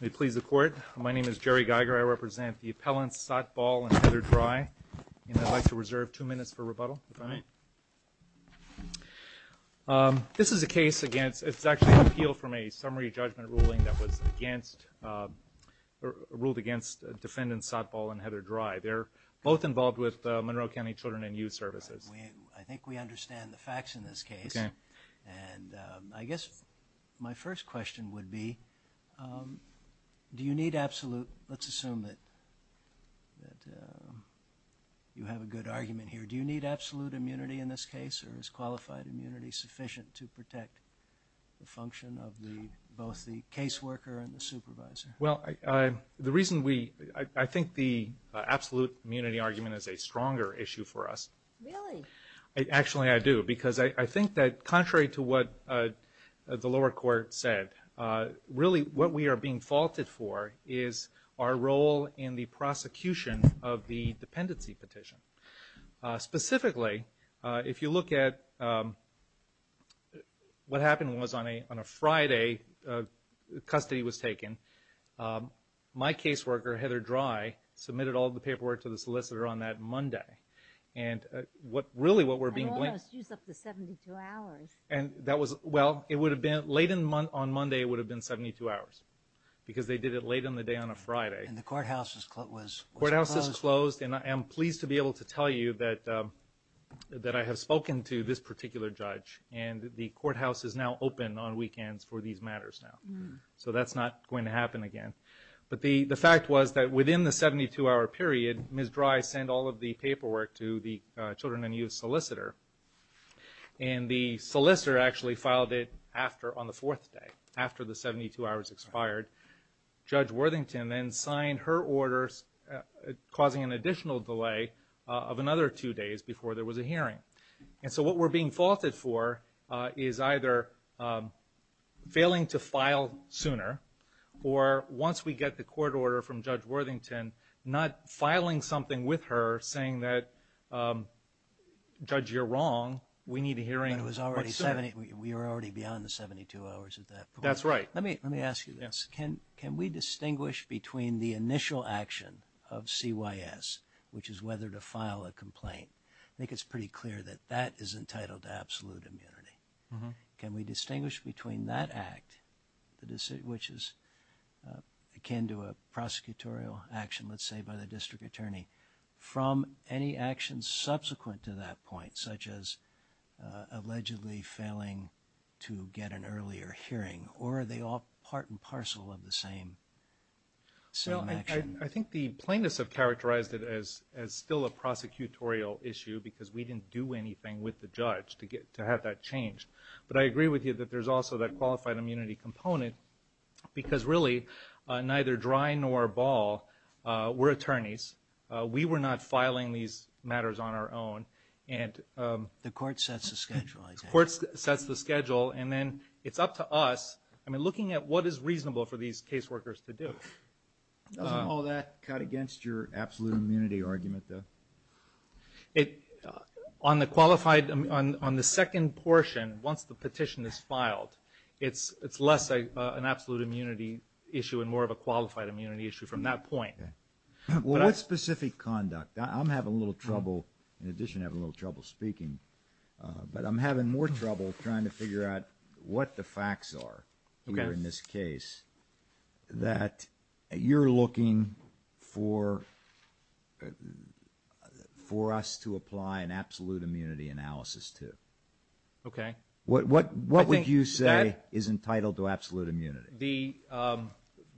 May it please the court, my name is Jerry Geiger, I represent the appellants Sotball and Heather Dry, and I'd like to reserve two minutes for rebuttal, if I may. This is a case against, it's actually an appeal from a summary judgment ruling that was against, ruled against defendants Sotball and Heather Dry. They're both involved with Monroe County Children and Youth Services. I think we understand the facts in this case, and I guess my first question would be, do you need absolute, let's assume that you have a good argument here, do you need absolute immunity in this case, or is qualified immunity sufficient to protect the function of both the case worker and the supervisor? Well, the reason we, I think the absolute immunity argument is a stronger issue for us. Really? Actually, I do, because I think that contrary to what the lower court said, really what we are being faulted for is our role in the prosecution of the dependency petition. Specifically, if you look at what happened was on a Friday, custody was taken, my case worker, Heather Dry, submitted all the paperwork to the solicitor on that Monday, and what really what we're being blamed for... And almost used up the 72 hours. And that was, well, it would have been, late on Monday would have been 72 hours, because they did it late in the day on a Friday. And the courthouse was closed. Courthouse is closed, and I am pleased to be able to tell you that I have spoken to this particular judge, and the courthouse is now open on weekends for these matters now. So that's not going to happen again. But the fact was that within the 72-hour period, Ms. Dry sent all of the paperwork to the children and youth solicitor, and the solicitor actually filed it on the fourth day, after the 72 hours expired. Judge Worthington then signed her orders, causing an additional delay of another two days before there was a hearing. And so what we're being faulted for is either failing to file sooner, or once we get the court order from Judge Worthington, not filing something with her saying that, Judge, you're wrong. We need a hearing. But it was already 70. We were already beyond the 72 hours at that point. That's right. Let me ask you this. Can we distinguish between the initial action of CYS, which is whether to file a complaint? I think it's pretty clear that that is entitled to absolute immunity. Can we distinguish between that act, which is akin to a prosecutorial action, let's say by the district attorney, from any action subsequent to that point, such as allegedly failing to get an earlier hearing? Or are they all part and parcel of the same action? I think the plaintiffs have characterized it as still a prosecutorial issue because we didn't do anything with the judge to have that changed. But I agree with you that there's also that qualified immunity component because, really, neither Drine nor Ball were attorneys. We were not filing these matters on our own. The court sets the schedule, I take it. The court sets the schedule. And then it's up to us. I mean, looking at what is reasonable for these caseworkers to do. Doesn't all that cut against your absolute immunity argument, though? It, on the qualified, on the second portion, once the petition is filed, it's less an absolute immunity issue and more of a qualified immunity issue from that point. Well, what specific conduct? I'm having a little trouble, in addition, having a little trouble speaking. But I'm having more trouble trying to figure out what the facts are in this case that you're looking for us to apply an absolute immunity analysis to. Okay. What would you say is entitled to absolute immunity?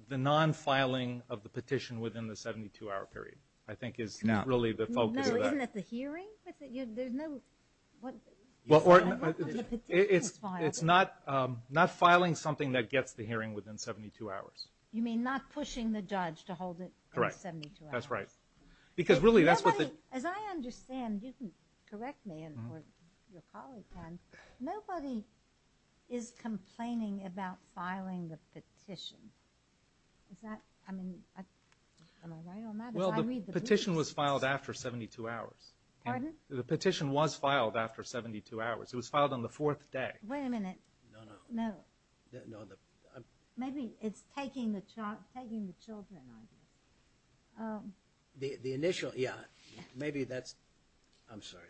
The non-filing of the petition within the 72-hour period, I think, is really the focus of that. Isn't that the hearing? But there's no, what, when the petition is filed. It's not filing something that gets the hearing within 72 hours. You mean not pushing the judge to hold it for 72 hours? Correct. That's right. Because really, that's what the- As I understand, you can correct me and your colleague can, nobody is complaining about filing the petition. Is that, I mean, am I right on that? Well, the petition was filed after 72 hours. Pardon? The petition was filed after 72 hours. It was filed on the fourth day. Wait a minute. No, no. No. Maybe it's taking the child, taking the children, I guess. The initial, yeah, maybe that's, I'm sorry.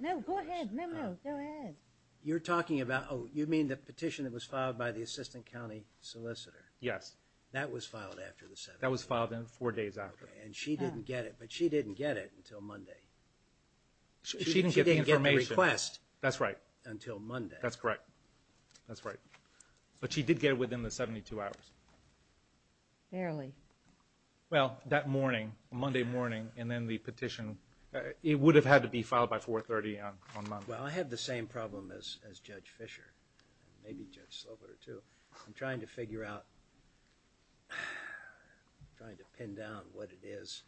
No, go ahead, no, no, go ahead. You're talking about, oh, you mean the petition that was filed by the assistant county solicitor? Yes. That was filed after the 72 hours? That was filed in four days after. And she didn't get it, but she didn't get it until Monday. She didn't get the information. She didn't get the request. That's right. Until Monday. That's correct. That's right. But she did get it within the 72 hours. Barely. Well, that morning, Monday morning, and then the petition, it would have had to be filed by 430 on Monday. Well, I had the same problem as Judge Fischer, maybe Judge Slover, too. I'm trying to figure out, I'm trying to pin down what it is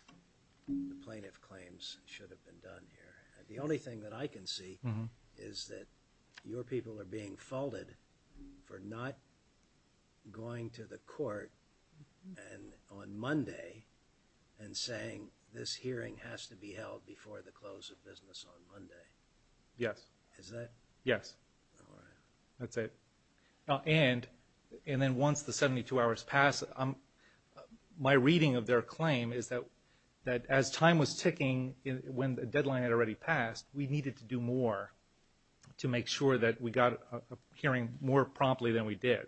the plaintiff claims should have been done here. The only thing that I can see is that your people are being faulted for not going to the court on Monday and saying, this hearing has to be held before the close of business on Monday. Yes. Is that? Yes. That's it. And then once the 72 hours pass, my reading of their claim is that as time was ticking, when the deadline had already passed, we needed to do more to make sure that we got a hearing more promptly than we did.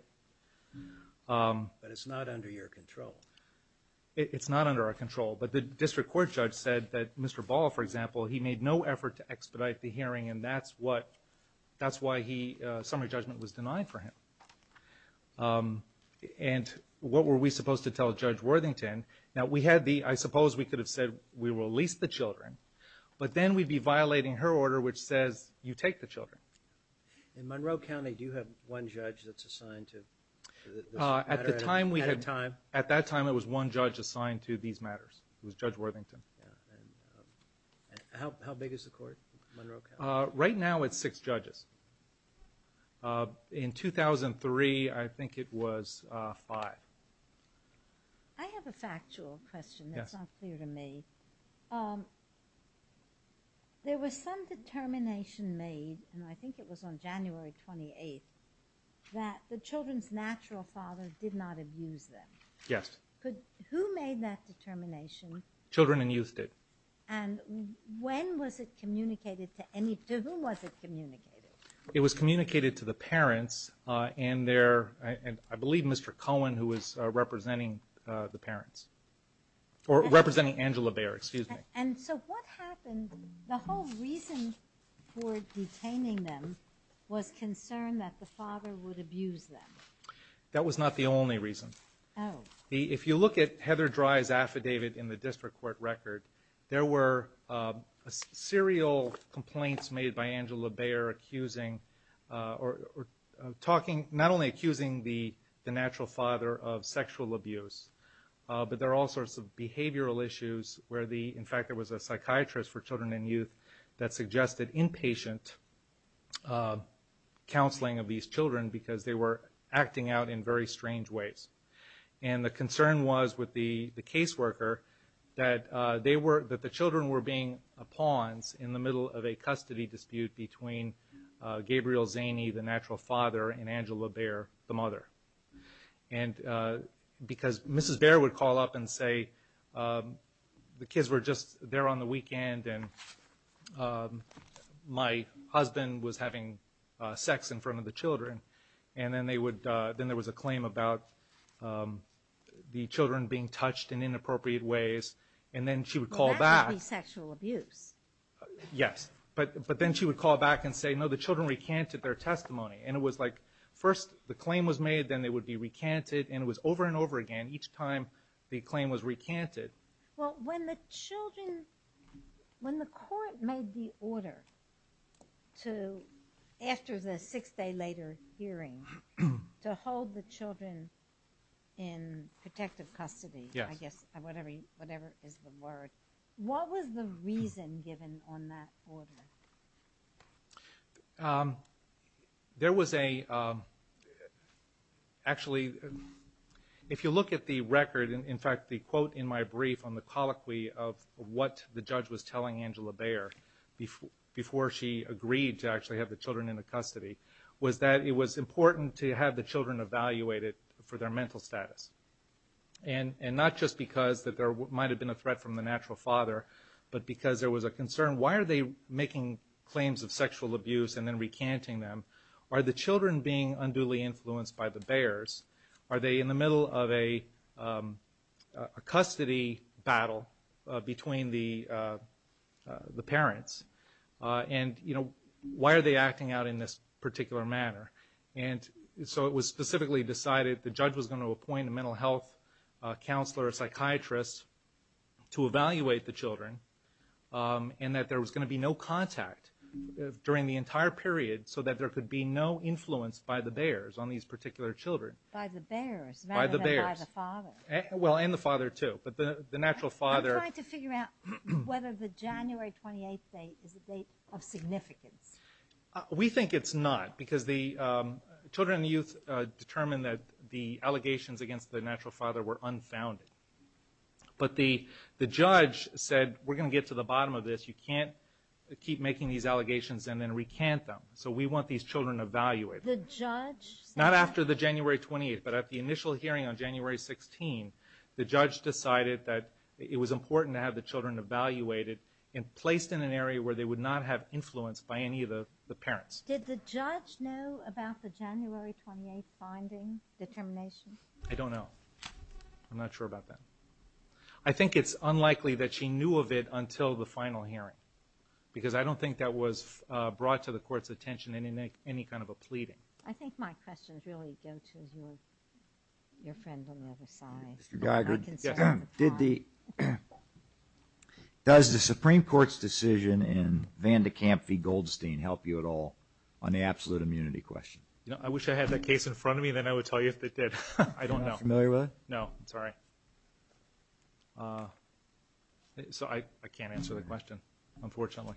But it's not under your control. It's not under our control. But the district court judge said that Mr. Ball, for example, he made no effort to expedite the hearing, and that's why summary judgment was denied for him. And what were we supposed to tell Judge Worthington? Now, we had the, I suppose we could have said, we will lease the children, but then we'd be violating her order, which says you take the children. In Monroe County, do you have one judge that's assigned to this matter at a time? At that time, it was one judge assigned to these matters. It was Judge Worthington. Yeah, and how big is the court in Monroe County? Right now, it's six judges. In 2003, I think it was five. I have a factual question that's not clear to me. There was some determination made, and I think it was on January 28th, that the children's natural father did not abuse them. Yes. Who made that determination? Children and youth did. And when was it communicated to any, to whom was it communicated? It was communicated to the parents, and I believe Mr. Cohen, who was representing the parents, or representing Angela Bear, excuse me. And so what happened, the whole reason for detaining them was concern that the father would abuse them. That was not the only reason. If you look at Heather Dry's affidavit in the district court record, there were serial complaints made by Angela Bear accusing, or talking, not only accusing the natural father of sexual abuse, but there are all sorts of behavioral issues where the, in fact, there was a psychiatrist for children and youth that suggested inpatient counseling of these children because they were acting out in very strange ways. And the concern was with the caseworker that they were, that the children were being pawns in the middle of a custody dispute between Gabriel Zaney, the natural father, and Angela Bear, the mother. And because Mrs. Bear would call up and say, the kids were just there on the weekend, and then they would, then there was a claim about the children being touched in inappropriate ways, and then she would call back. That would be sexual abuse. Yes, but then she would call back and say, no, the children recanted their testimony. And it was like, first the claim was made, then they would be recanted, and it was over and over again each time the claim was recanted. Well, when the children, when the court made the order to, after the six day later hearing, to hold the children in protective custody, I guess, whatever is the word, what was the reason given on that order? There was a, actually, if you look at the record, in fact, the quote in my brief on the colloquy of what the judge was telling Angela Bear, before she agreed to actually have the children in the custody, was that it was important to have the children evaluated for their mental status. And not just because there might have been a threat from the natural father, but because there was a concern, why are they making claims of sexual abuse and then recanting them? Are the children being unduly influenced by the Bears? Are they in the middle of a custody battle between the parents? And, you know, why are they acting out in this particular manner? And so it was specifically decided the judge was going to appoint a mental health counselor, a psychiatrist, to evaluate the children, and that there was going to be no contact during the entire period so that there could be no influence by the Bears on these particular children. By the Bears, rather than by the father. Well, and the father, too, but the natural father. I'm trying to figure out whether the January 28th date is a date of significance. We think it's not, because the children and youth determined that the allegations against the natural father were unfounded. But the judge said, we're gonna get to the bottom of this, you can't keep making these allegations and then recant them. So we want these children evaluated. The judge? Not after the January 28th, but at the initial hearing on January 16th, the judge decided that it was important to have the children evaluated and placed in an area where they would not have influence by any of the parents. Did the judge know about the January 28th finding? Determination? I don't know. I'm not sure about that. I think it's unlikely that she knew of it until the final hearing, because I don't think that was brought to the court's attention in any kind of a pleading. I think my questions really go to your friend on the other side. Mr. Geiger, does the Supreme Court's decision in Van de Kamp v. Goldstein help you at all on the absolute immunity question? I wish I had that case in front of me, then I would tell you if they did. I don't know. Not familiar with it? No, sorry. So I can't answer the question, unfortunately.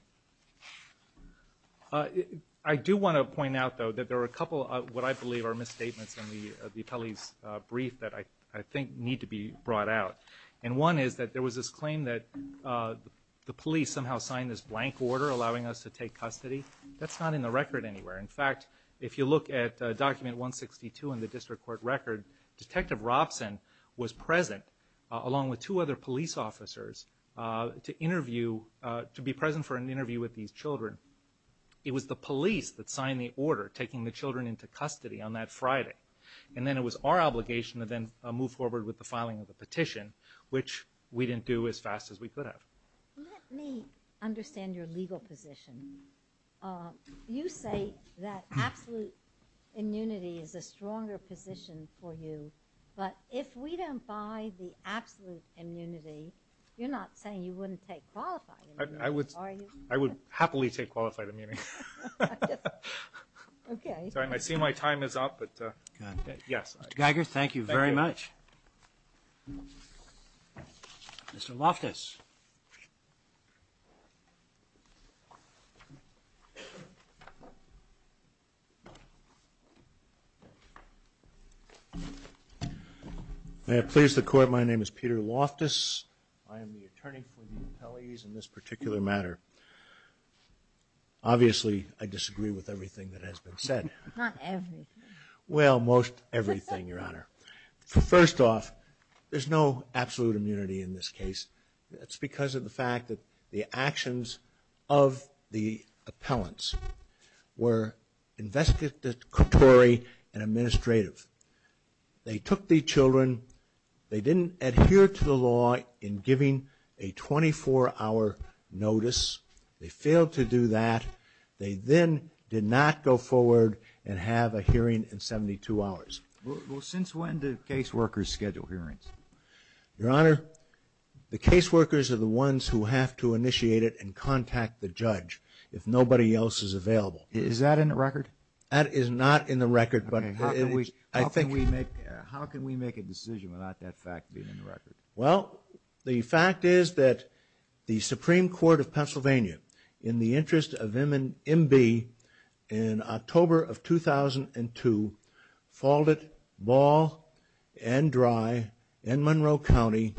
I do want to point out, though, that there were a couple of what I believe are misstatements in the appellee's brief that I think need to be brought out. And one is that there was this claim that the police somehow signed this blank order allowing us to take custody. That's not in the record anywhere. In fact, if you look at document 162 in the district court record, Detective Robson was present, along with two other police officers, to be present for an interview with these children. It was the police that signed the order, taking the children into custody on that Friday. And then it was our obligation to then move forward with the filing of the petition, which we didn't do as fast as we could have. Let me understand your legal position. You say that absolute immunity is a stronger position for you. But if we don't buy the absolute immunity, you're not saying you wouldn't take qualified immunity, are you? I would happily take qualified immunity. Okay. I see my time is up, but yes. Mr. Geiger, thank you very much. Mr. Loftus. May I please the court? My name is Peter Loftus. I am the attorney for the appellees in this particular matter. Obviously, I disagree with everything that has been said. Not everything. Well, most everything, Your Honor. First off, there's no absolute immunity in this case. That's because of the fact that the actions of the appellants were investigatory and administrative. They took the children. They didn't adhere to the law in giving a 24-hour notice. They failed to do that. They then did not go forward and have a hearing in 72 hours. Well, since when do caseworkers schedule hearings? Your Honor, the caseworkers are the ones who have to initiate it and contact the judge if nobody else is available. Is that in the record? That is not in the record. How can we make a decision without that fact being in the record? In the interest of MB, in October of 2002, faulted Ball and Dry and Monroe County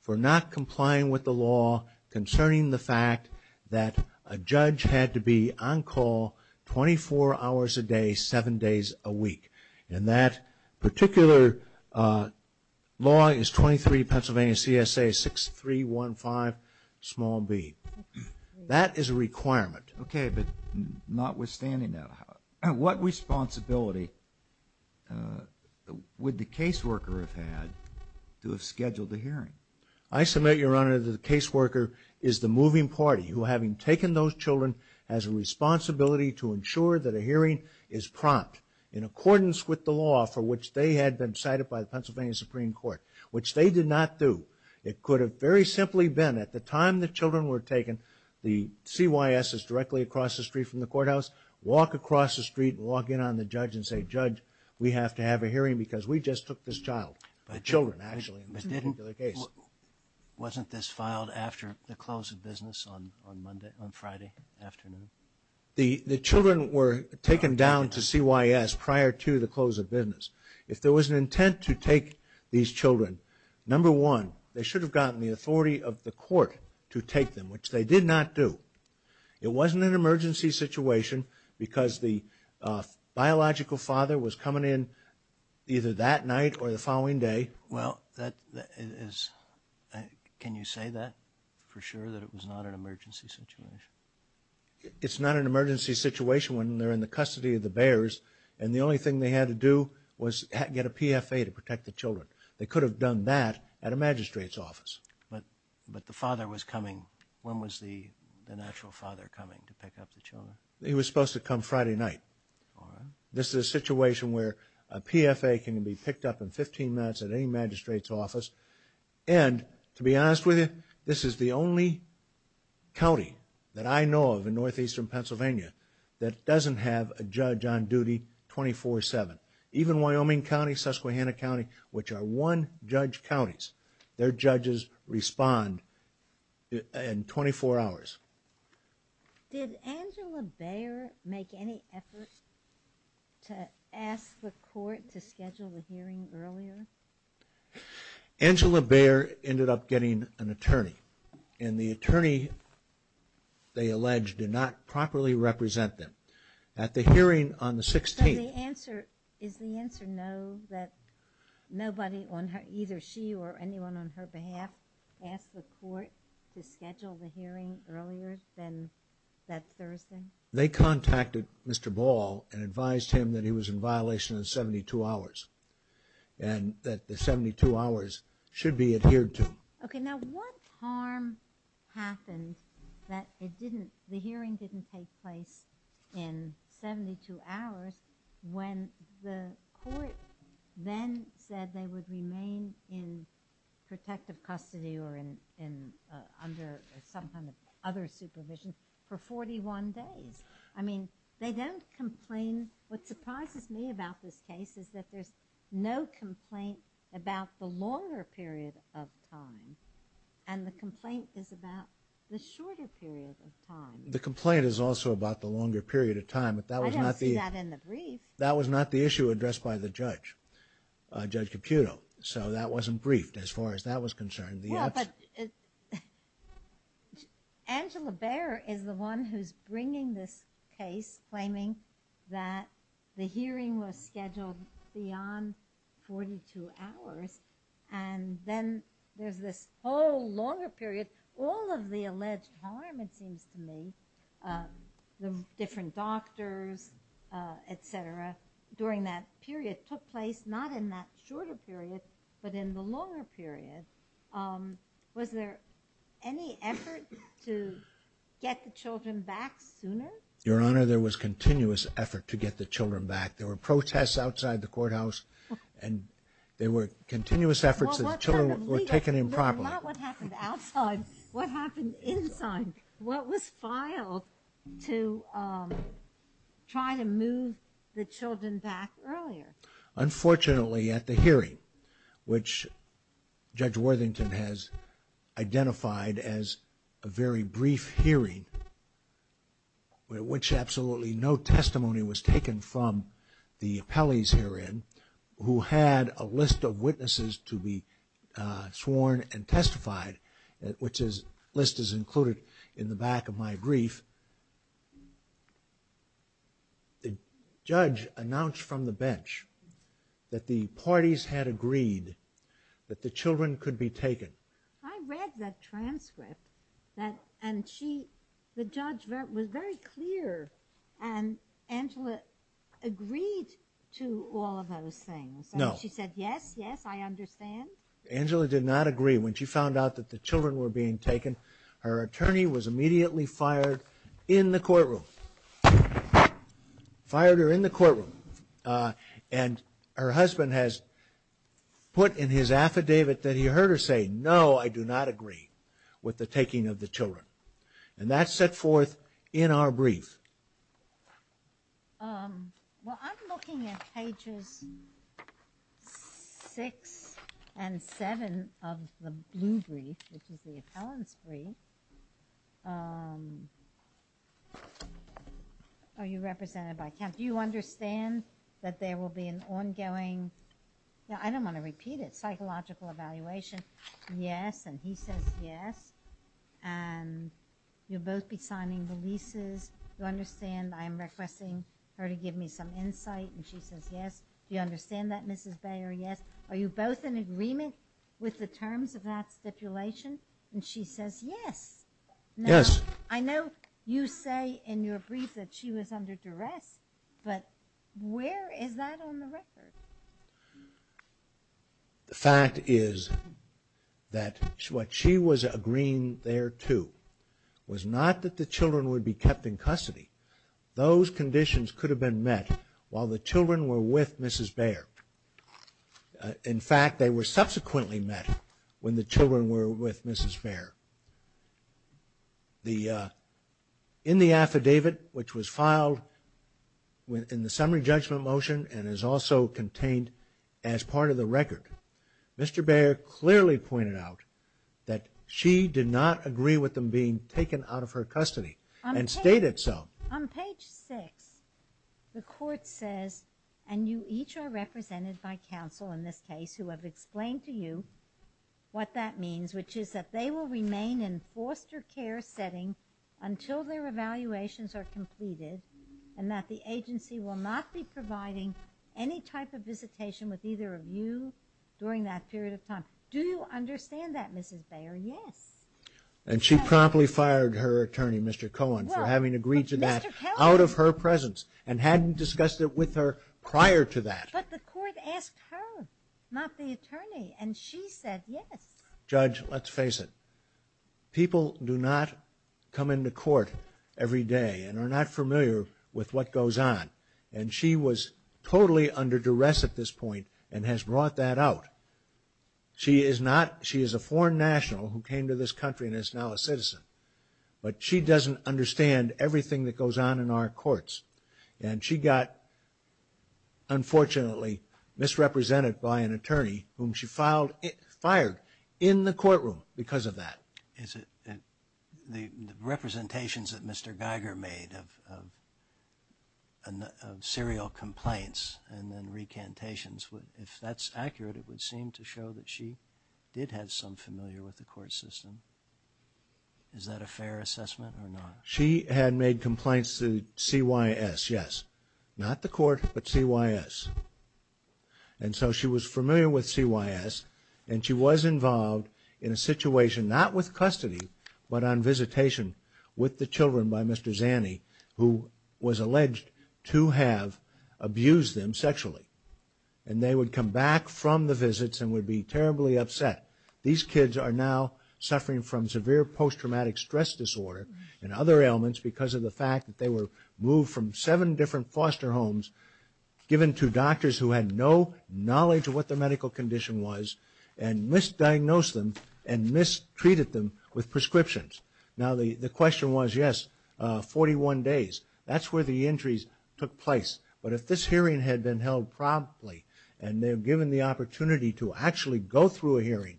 for not complying with the law concerning the fact that a judge had to be on call 24 hours a day, seven days a week. And that particular law is 23 Pennsylvania CSA 6315 b. That is a requirement. Okay, but notwithstanding that, what responsibility would the caseworker have had to have scheduled the hearing? I submit, Your Honor, that the caseworker is the moving party who, having taken those children, has a responsibility to ensure that a hearing is prompt in accordance with the law for which they had been cited by the Pennsylvania Supreme Court, which they did not do. It could have very simply been, at the time the children were taken, the CYS is directly across the street from the courthouse, walk across the street and walk in on the judge and say, Judge, we have to have a hearing because we just took this child, the children, actually, in this particular case. Wasn't this filed after the close of business on Friday afternoon? The children were taken down to CYS prior to the close of business. If there was an intent to take these children, number one, they should have gotten the authority of the court to take them, which they did not do. It wasn't an emergency situation because the biological father was coming in either that night or the following day. Well, can you say that for sure, that it was not an emergency situation? It's not an emergency situation when they're in the custody of the bears and the only thing they had to do was get a PFA to protect the children. They could have done that at a magistrate's office. But the father was coming. When was the natural father coming to pick up the children? He was supposed to come Friday night. This is a situation where a PFA can be picked up in 15 minutes at any magistrate's office. And to be honest with you, this is the only county that I know of in northeastern Pennsylvania that doesn't have a judge on duty 24-7. Even Wyoming County, Susquehanna County, which are one-judge counties, their judges respond in 24 hours. Did Angela Bayer make any effort to ask the court to schedule the hearing earlier? Angela Bayer ended up getting an attorney. And the attorney, they allege, did not properly represent them. At the hearing on the 16th... Is the answer no, that nobody, either she or anyone on her behalf, asked the court to schedule the hearing earlier than that Thursday? They contacted Mr. Ball and advised him that he was in violation of 72 hours and that the 72 hours should be adhered to. Okay, now what harm happened that it didn't, the hearing didn't take place in 72 hours when the court then said they would remain in protective custody or under some kind of other supervision for 41 days? I mean, they don't complain. What surprises me about this case is that there's no complaint about the longer period of time. And the complaint is about the shorter period of time. The complaint is also about the longer period of time, but that was not the... I don't see that in the brief. That was not the issue addressed by the judge, Judge Caputo. So that wasn't briefed as far as that was concerned. Angela Bayer is the one who's bringing this case, claiming that the hearing was scheduled beyond 42 hours. And then there's this whole longer period. All of the alleged harm, it seems to me, the different doctors, et cetera, during that period took place not in that shorter period, but in the longer period. Was there any effort to get the children back sooner? Your Honor, there was continuous effort to get the children back. There were protests outside the courthouse and there were continuous efforts that the children were taken improperly. Not what happened outside, what happened inside. What was filed to try to move the children back earlier? Unfortunately, at the hearing, which Judge Worthington has identified as a very brief hearing, which absolutely no testimony was taken from the appellees herein, who had a list of witnesses to be sworn and testified, which list is included in the back of my brief. The judge announced from the bench that the parties had agreed that the children could be taken. I read that transcript and the judge was very clear and Angela agreed to all of those things. No. She said, yes, yes, I understand. Angela did not agree. When she found out that the children were being taken, her attorney was immediately fired in the courtroom. Fired her in the courtroom. And her husband has put in his affidavit that he heard her say, no, I do not agree with the taking of the children. And that's set forth in our brief. Well, I'm looking at pages six and seven of the blue brief, which is the appellant's brief. Are you represented by count? Do you understand that there will be an ongoing? I don't want to repeat it. Psychological evaluation. Yes. And he says yes. And you'll both be signing the leases. You understand I'm requesting her to give me some insight. And she says yes. Do you understand that, Mrs. Bayer? Yes. Are you both in agreement with the terms of that stipulation? And she says yes. Yes. I know you say in your brief that she was under duress, but where is that on the record? The fact is that what she was agreeing there to was not that the children would be kept in custody. Those conditions could have been met while the children were with Mrs. Bayer. In fact, they were subsequently met when the children were with Mrs. Bayer. In the affidavit, which was filed in the summary judgment motion and is also contained as part of the record, Mr. Bayer clearly pointed out that she did not agree with them being taken out of her custody and stated so. On page six, the court says, and you each are represented by counsel in this case who have explained to you what that means, which is that they will remain in foster care setting until their evaluations are completed and that the agency will not be providing any type of visitation with either of you during that period of time. Do you understand that, Mrs. Bayer? Yes. And she promptly fired her attorney, Mr. Cohen, for having agreed to that out of her presence and hadn't discussed it with her prior to that. But the court asked her, not the attorney, and she said yes. Judge, let's face it. People do not come into court every day and are not familiar with what goes on. And she was totally under duress at this point and has brought that out. She is a foreign national who came to this country and is now a citizen, but she doesn't understand everything that goes on in our courts. And she got, unfortunately, misrepresented by an attorney whom she fired in the courtroom because of that. Is it the representations that Mr. Geiger made of serial complaints and then recantations, if that's accurate, it would seem to show that she did have some familiar with the court system. Is that a fair assessment or not? She had made complaints to CYS, yes. Not the court, but CYS. And so she was familiar with CYS and she was involved in a situation not with custody, but on visitation with the children by Mr. Zanny, who was alleged to have abused them sexually. And they would come back from the visits and would be terribly upset. These kids are now suffering from severe post-traumatic stress disorder and other ailments because of the fact that they were moved from seven different foster homes, given to doctors who had no knowledge of what their medical condition was and misdiagnosed them and mistreated them with prescriptions. Now the question was, yes, 41 days. That's where the injuries took place. But if this hearing had been held promptly and they've given the opportunity to actually go through a hearing,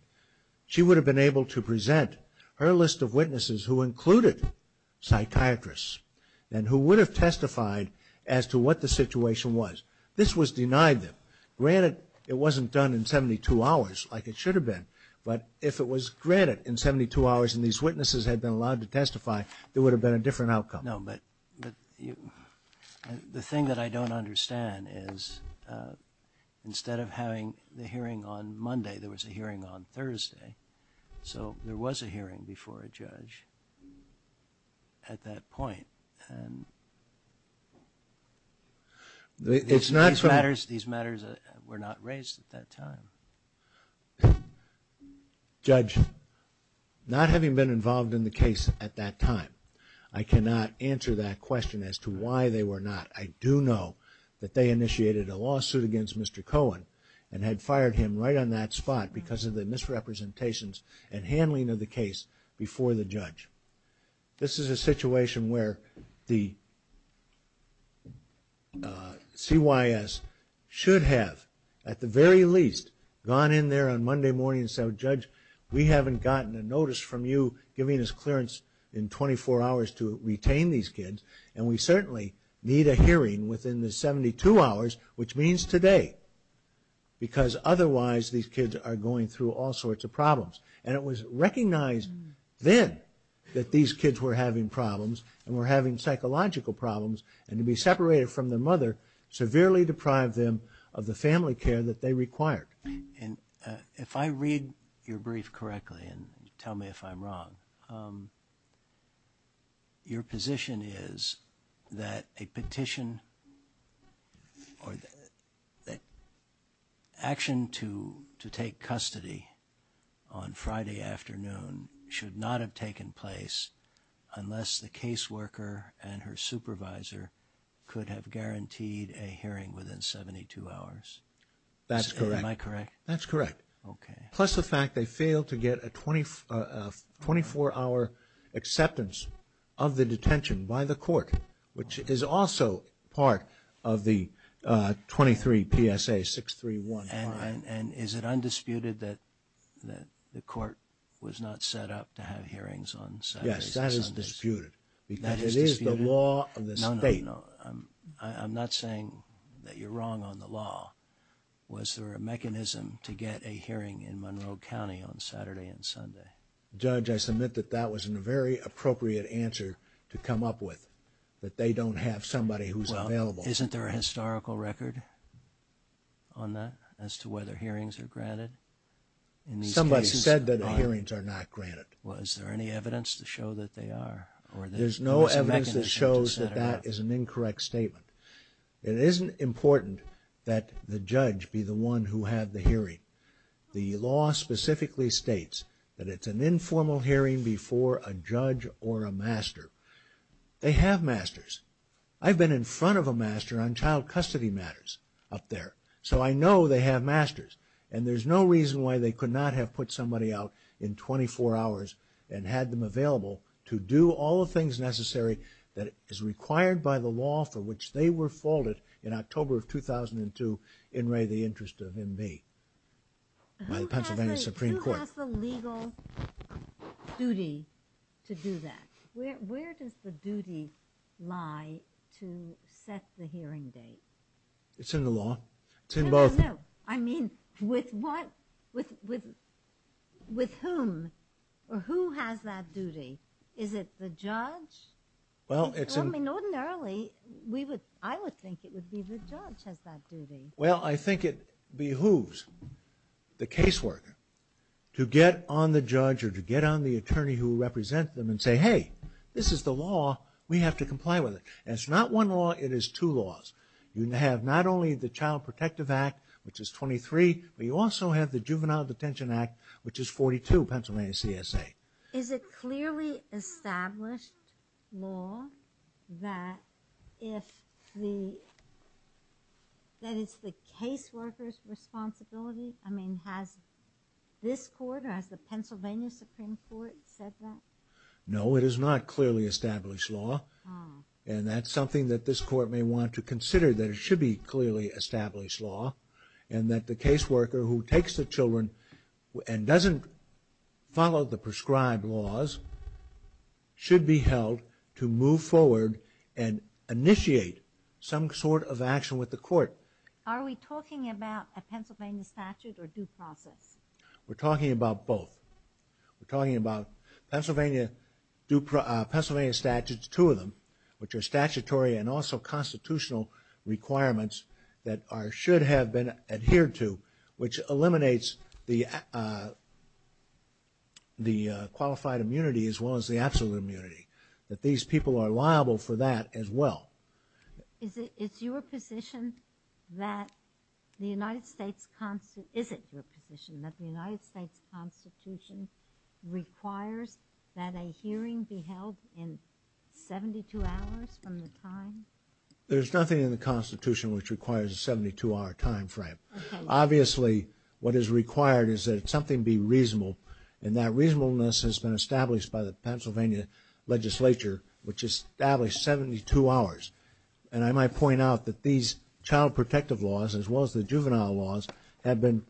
she would have been able to present her list of witnesses who included psychiatrists and who would have testified as to what the situation was. This was denied them. Granted, it wasn't done in 72 hours like it should have been. But if it was granted in 72 hours and these witnesses had been allowed to testify, there would have been a different outcome. No, but the thing that I don't understand is instead of having the hearing on Monday, there was a hearing on Thursday. So there was a hearing before a judge at that point. These matters were not raised at that time. Judge, not having been involved in the case at that time, I cannot answer that question as to why they were not. I do know that they initiated a lawsuit against Mr. Cohen and had fired him right on that spot because of the misrepresentations and handling of the case before the judge. This is a situation where the CYS should have at the very least gone in there on Monday morning and said, Judge, we haven't gotten a notice from you giving us clearance in 24 hours to retain these kids. And we certainly need a hearing within the 72 hours, which means today. Because otherwise, these kids are going through all sorts of problems. And it was recognized then that these kids were having problems and were having psychological problems. And to be separated from their mother severely deprived them of the family care that they required. And if I read your brief correctly and tell me if I'm wrong. Your position is that a petition. Or the action to to take custody on Friday afternoon should not have taken place unless the caseworker and her supervisor could have guaranteed a hearing within 72 hours. That's correct. Am I correct? That's correct. OK. Plus the fact they failed to get a 24 hour acceptance of the detention by the court, which is also part of the 23 PSA 631. And is it undisputed that that the court was not set up to have hearings on Sundays? Yes, that is disputed. Because it is the law of the state. No, I'm not saying that you're wrong on the law. Was there a mechanism to get a hearing in Monroe County on Saturday and Sunday? Judge, I submit that that wasn't a very appropriate answer to come up with that they don't have somebody who's available. Isn't there a historical record? On that as to whether hearings are granted. Somebody said that the hearings are not granted. Was there any evidence to show that they are? Or there's no evidence that shows that that is an incorrect statement. It isn't important that the judge be the one who had the hearing. The law specifically states that it's an informal hearing before a judge or a master. They have masters. I've been in front of a master on child custody matters up there. So I know they have masters. And there's no reason why they could not have put somebody out in 24 hours and had them available to do all the things necessary that is required by the law for which they were faulted in October of 2002 in Ray the interest of MB by the Pennsylvania Supreme Court. Who has the legal duty to do that? Where does the duty lie to set the hearing date? It's in the law. It's in both. I mean, with what? With whom? Or who has that duty? Is it the judge? Well, it's in... I mean, ordinarily, I would think it would be the judge has that duty. Well, I think it behooves the caseworker to get on the judge or to get on the attorney who represents them and say, hey, this is the law. We have to comply with it. It's not one law. It is two laws. You have not only the Child Protective Act, which is 23, but you also have the Juvenile Detention Act, which is 42 Pennsylvania CSA. Is it clearly established law that if the... that it's the caseworker's responsibility? I mean, has this court or has the Pennsylvania Supreme Court said that? No, it is not clearly established law. And that's something that this court may want to consider, that it should be clearly established law and that the caseworker who takes the children and doesn't follow the prescribed laws should be held to move forward and initiate some sort of action with the court. Are we talking about a Pennsylvania statute or due process? We're talking about both. We're talking about Pennsylvania statutes, two of them, which are statutory and also constitutional requirements that should have been adhered to, which eliminates the qualified immunity as well as the absolute immunity. That these people are liable for that as well. Is it your position that the United States... Is it your position that the United States Constitution requires that a hearing be held in 72 hours from the time? There's nothing in the Constitution which requires a 72-hour time frame. Obviously, what is required is that something be reasonable and that reasonableness has been established by the Pennsylvania legislature, which established 72 hours. And I might point out that these child protective laws, as well as the juvenile laws, have been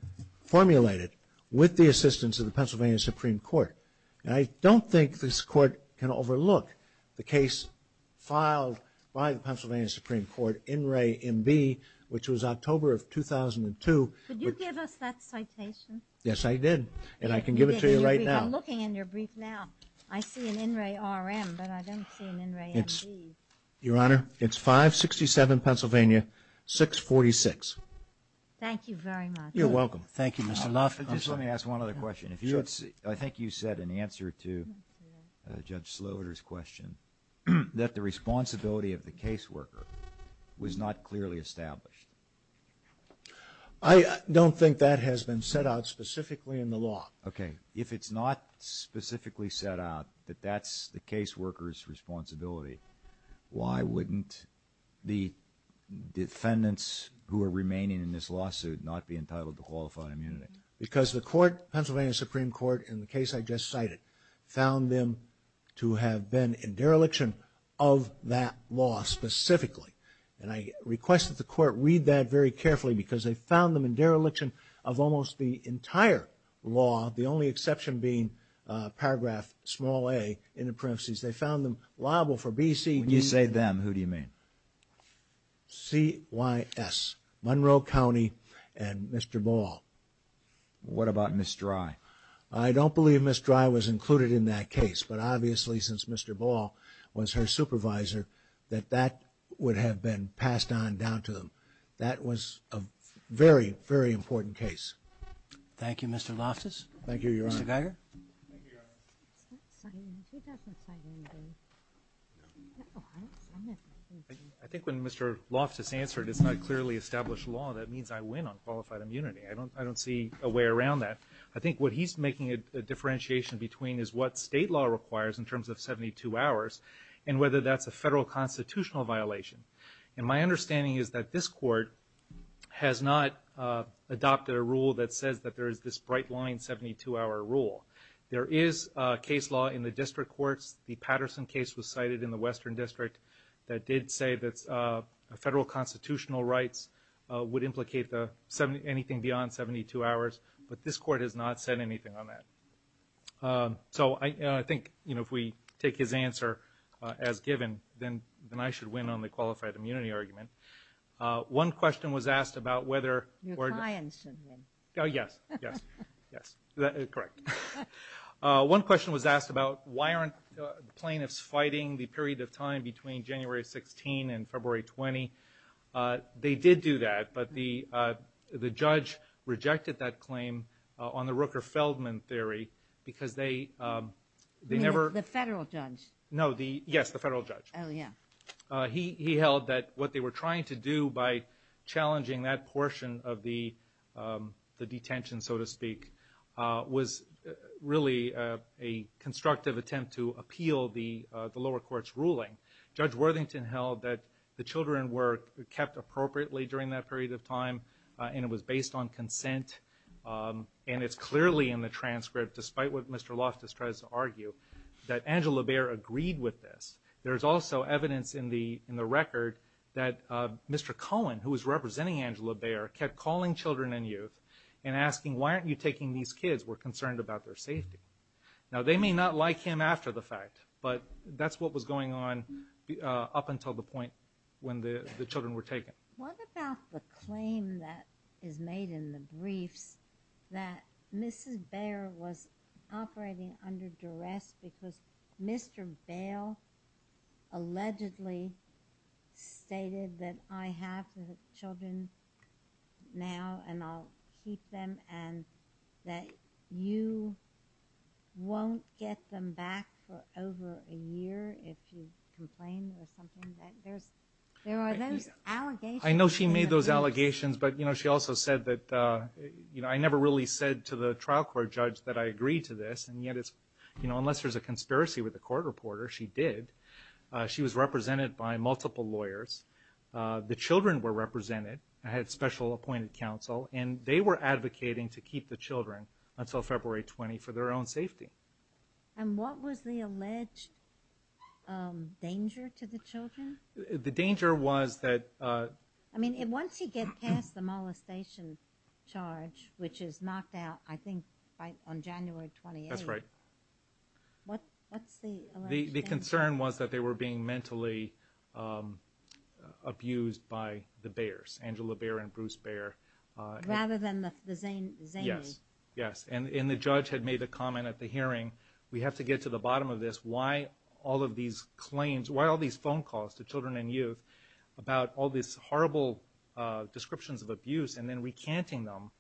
formulated with the assistance of the Pennsylvania Supreme Court. And I don't think this court can overlook the case filed by the Pennsylvania Supreme Court, INRAE-MB, which was October of 2002. Could you give us that citation? Yes, I did. And I can give it to you right now. I'm looking in your brief now. I see an INRAE-RM, but I don't see an INRAE-MB. Your Honor, it's 567 Pennsylvania 646. Thank you very much. You're welcome. Thank you, Mr. Luff. Just let me ask one other question. I think you said in answer to Judge Sloater's question that the responsibility of the caseworker was not clearly established. I don't think that has been set out specifically in the law. OK. If it's not specifically set out that that's the caseworker's responsibility, why wouldn't the defendants who are remaining in this lawsuit not be entitled to qualified immunity? Because the court, Pennsylvania Supreme Court, in the case I just cited, found them to have been in dereliction of that law specifically. And I request that the court read that very carefully because they found them in dereliction of almost the entire law, the only exception being paragraph small a in the parentheses. They found them liable for B, C, D... When you say them, who do you mean? C, Y, S. Monroe County and Mr. Ball. What about Ms. Dry? I don't believe Ms. Dry was included in that case. But obviously, since Mr. Ball was her supervisor, that that would have been passed on down to them. That was a very, very important case. Thank you, Mr. Loftus. Thank you, Your Honor. I think when Mr. Loftus answered it's not clearly established law, that means I win on qualified immunity. I don't see a way around that. I think what he's making a differentiation between is what state law requires in terms of 72 hours and whether that's a federal constitutional violation. And my understanding is that this court has not adopted a rule that says that there is this bright line 72-hour rule. There is case law in the district courts. The Patterson case was cited in the Western District that did say that federal constitutional rights would implicate anything beyond 72 hours. But this court has not said anything on that. So I think if we take his answer as given, then I should win on the qualified immunity argument. One question was asked about whether- Your client should win. Yes, yes, yes, correct. One question was asked about why aren't plaintiffs fighting the period of time between January 16 and February 20. They did do that, but the judge rejected that claim on the Rooker-Feldman theory because they never- The federal judge. No, yes, the federal judge. Oh, yeah. He held that what they were trying to do by challenging that portion of the detention, so to speak, was really a constructive attempt to appeal the lower court's ruling. Judge Worthington held that the children were kept appropriately during that period of time and it was based on consent and it's clearly in the transcript, despite what Mr. Loftus tries to argue, that Angela Baer agreed with this. There's also evidence in the record that Mr. Cohen, who was representing Angela Baer, kept calling children and youth and asking, why aren't you taking these kids? We're concerned about their safety. Now, they may not like him after the fact, but that's what was going on up until the point when the children were taken. What about the claim that is made in the briefs that Mrs. Baer was operating under duress because Mr. Bale allegedly stated that I have the children now and I'll keep them and that you won't get them back for over a year if you complain or something? There are those allegations. I know she made those allegations, but she also said that, I never really said to the trial court judge that I agreed to this and yet, unless there's a conspiracy with the court reporter, she did. She was represented by multiple lawyers. The children were represented. I had special appointed counsel and they were advocating to keep the children until February 20 for their own safety. And what was the alleged danger to the children? The danger was that- I mean, once you get past the molestation charge, which is knocked out, I think, on January 28th. That's right. What's the alleged danger? The concern was that they were being mentally abused by the Baers Angela Baer and Bruce Baer. Rather than the zany. Yes, yes. And the judge had made a comment at the hearing, we have to get to the bottom of this, why all of these claims, why all these phone calls to children and youth about all these horrible descriptions of abuse and then recanting them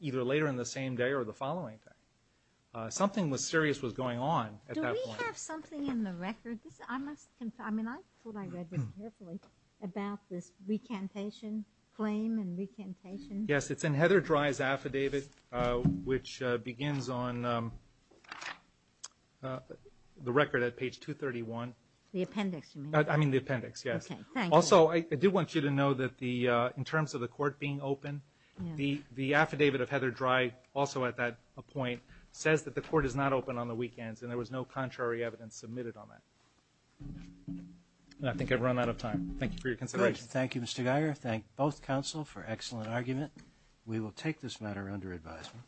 either later in the same day or the following day. Something was serious was going on at that point. Do we have something in the record? I must confirm. I mean, I thought I read this carefully about this recantation claim and recantation. Yes, it's in Heather Dry's affidavit, which begins on the record at page 231. The appendix. I mean, the appendix. Yes. Also, I do want you to know that the in terms of the court being open, the the affidavit of Heather Dry also at that point says that the court is not open on the weekends and there was no contrary evidence submitted on that. I think I've run out of time. Thank you for your consideration. Thank you, Mr. Geyer. Thank both counsel for excellent argument. We will take this matter under advisement.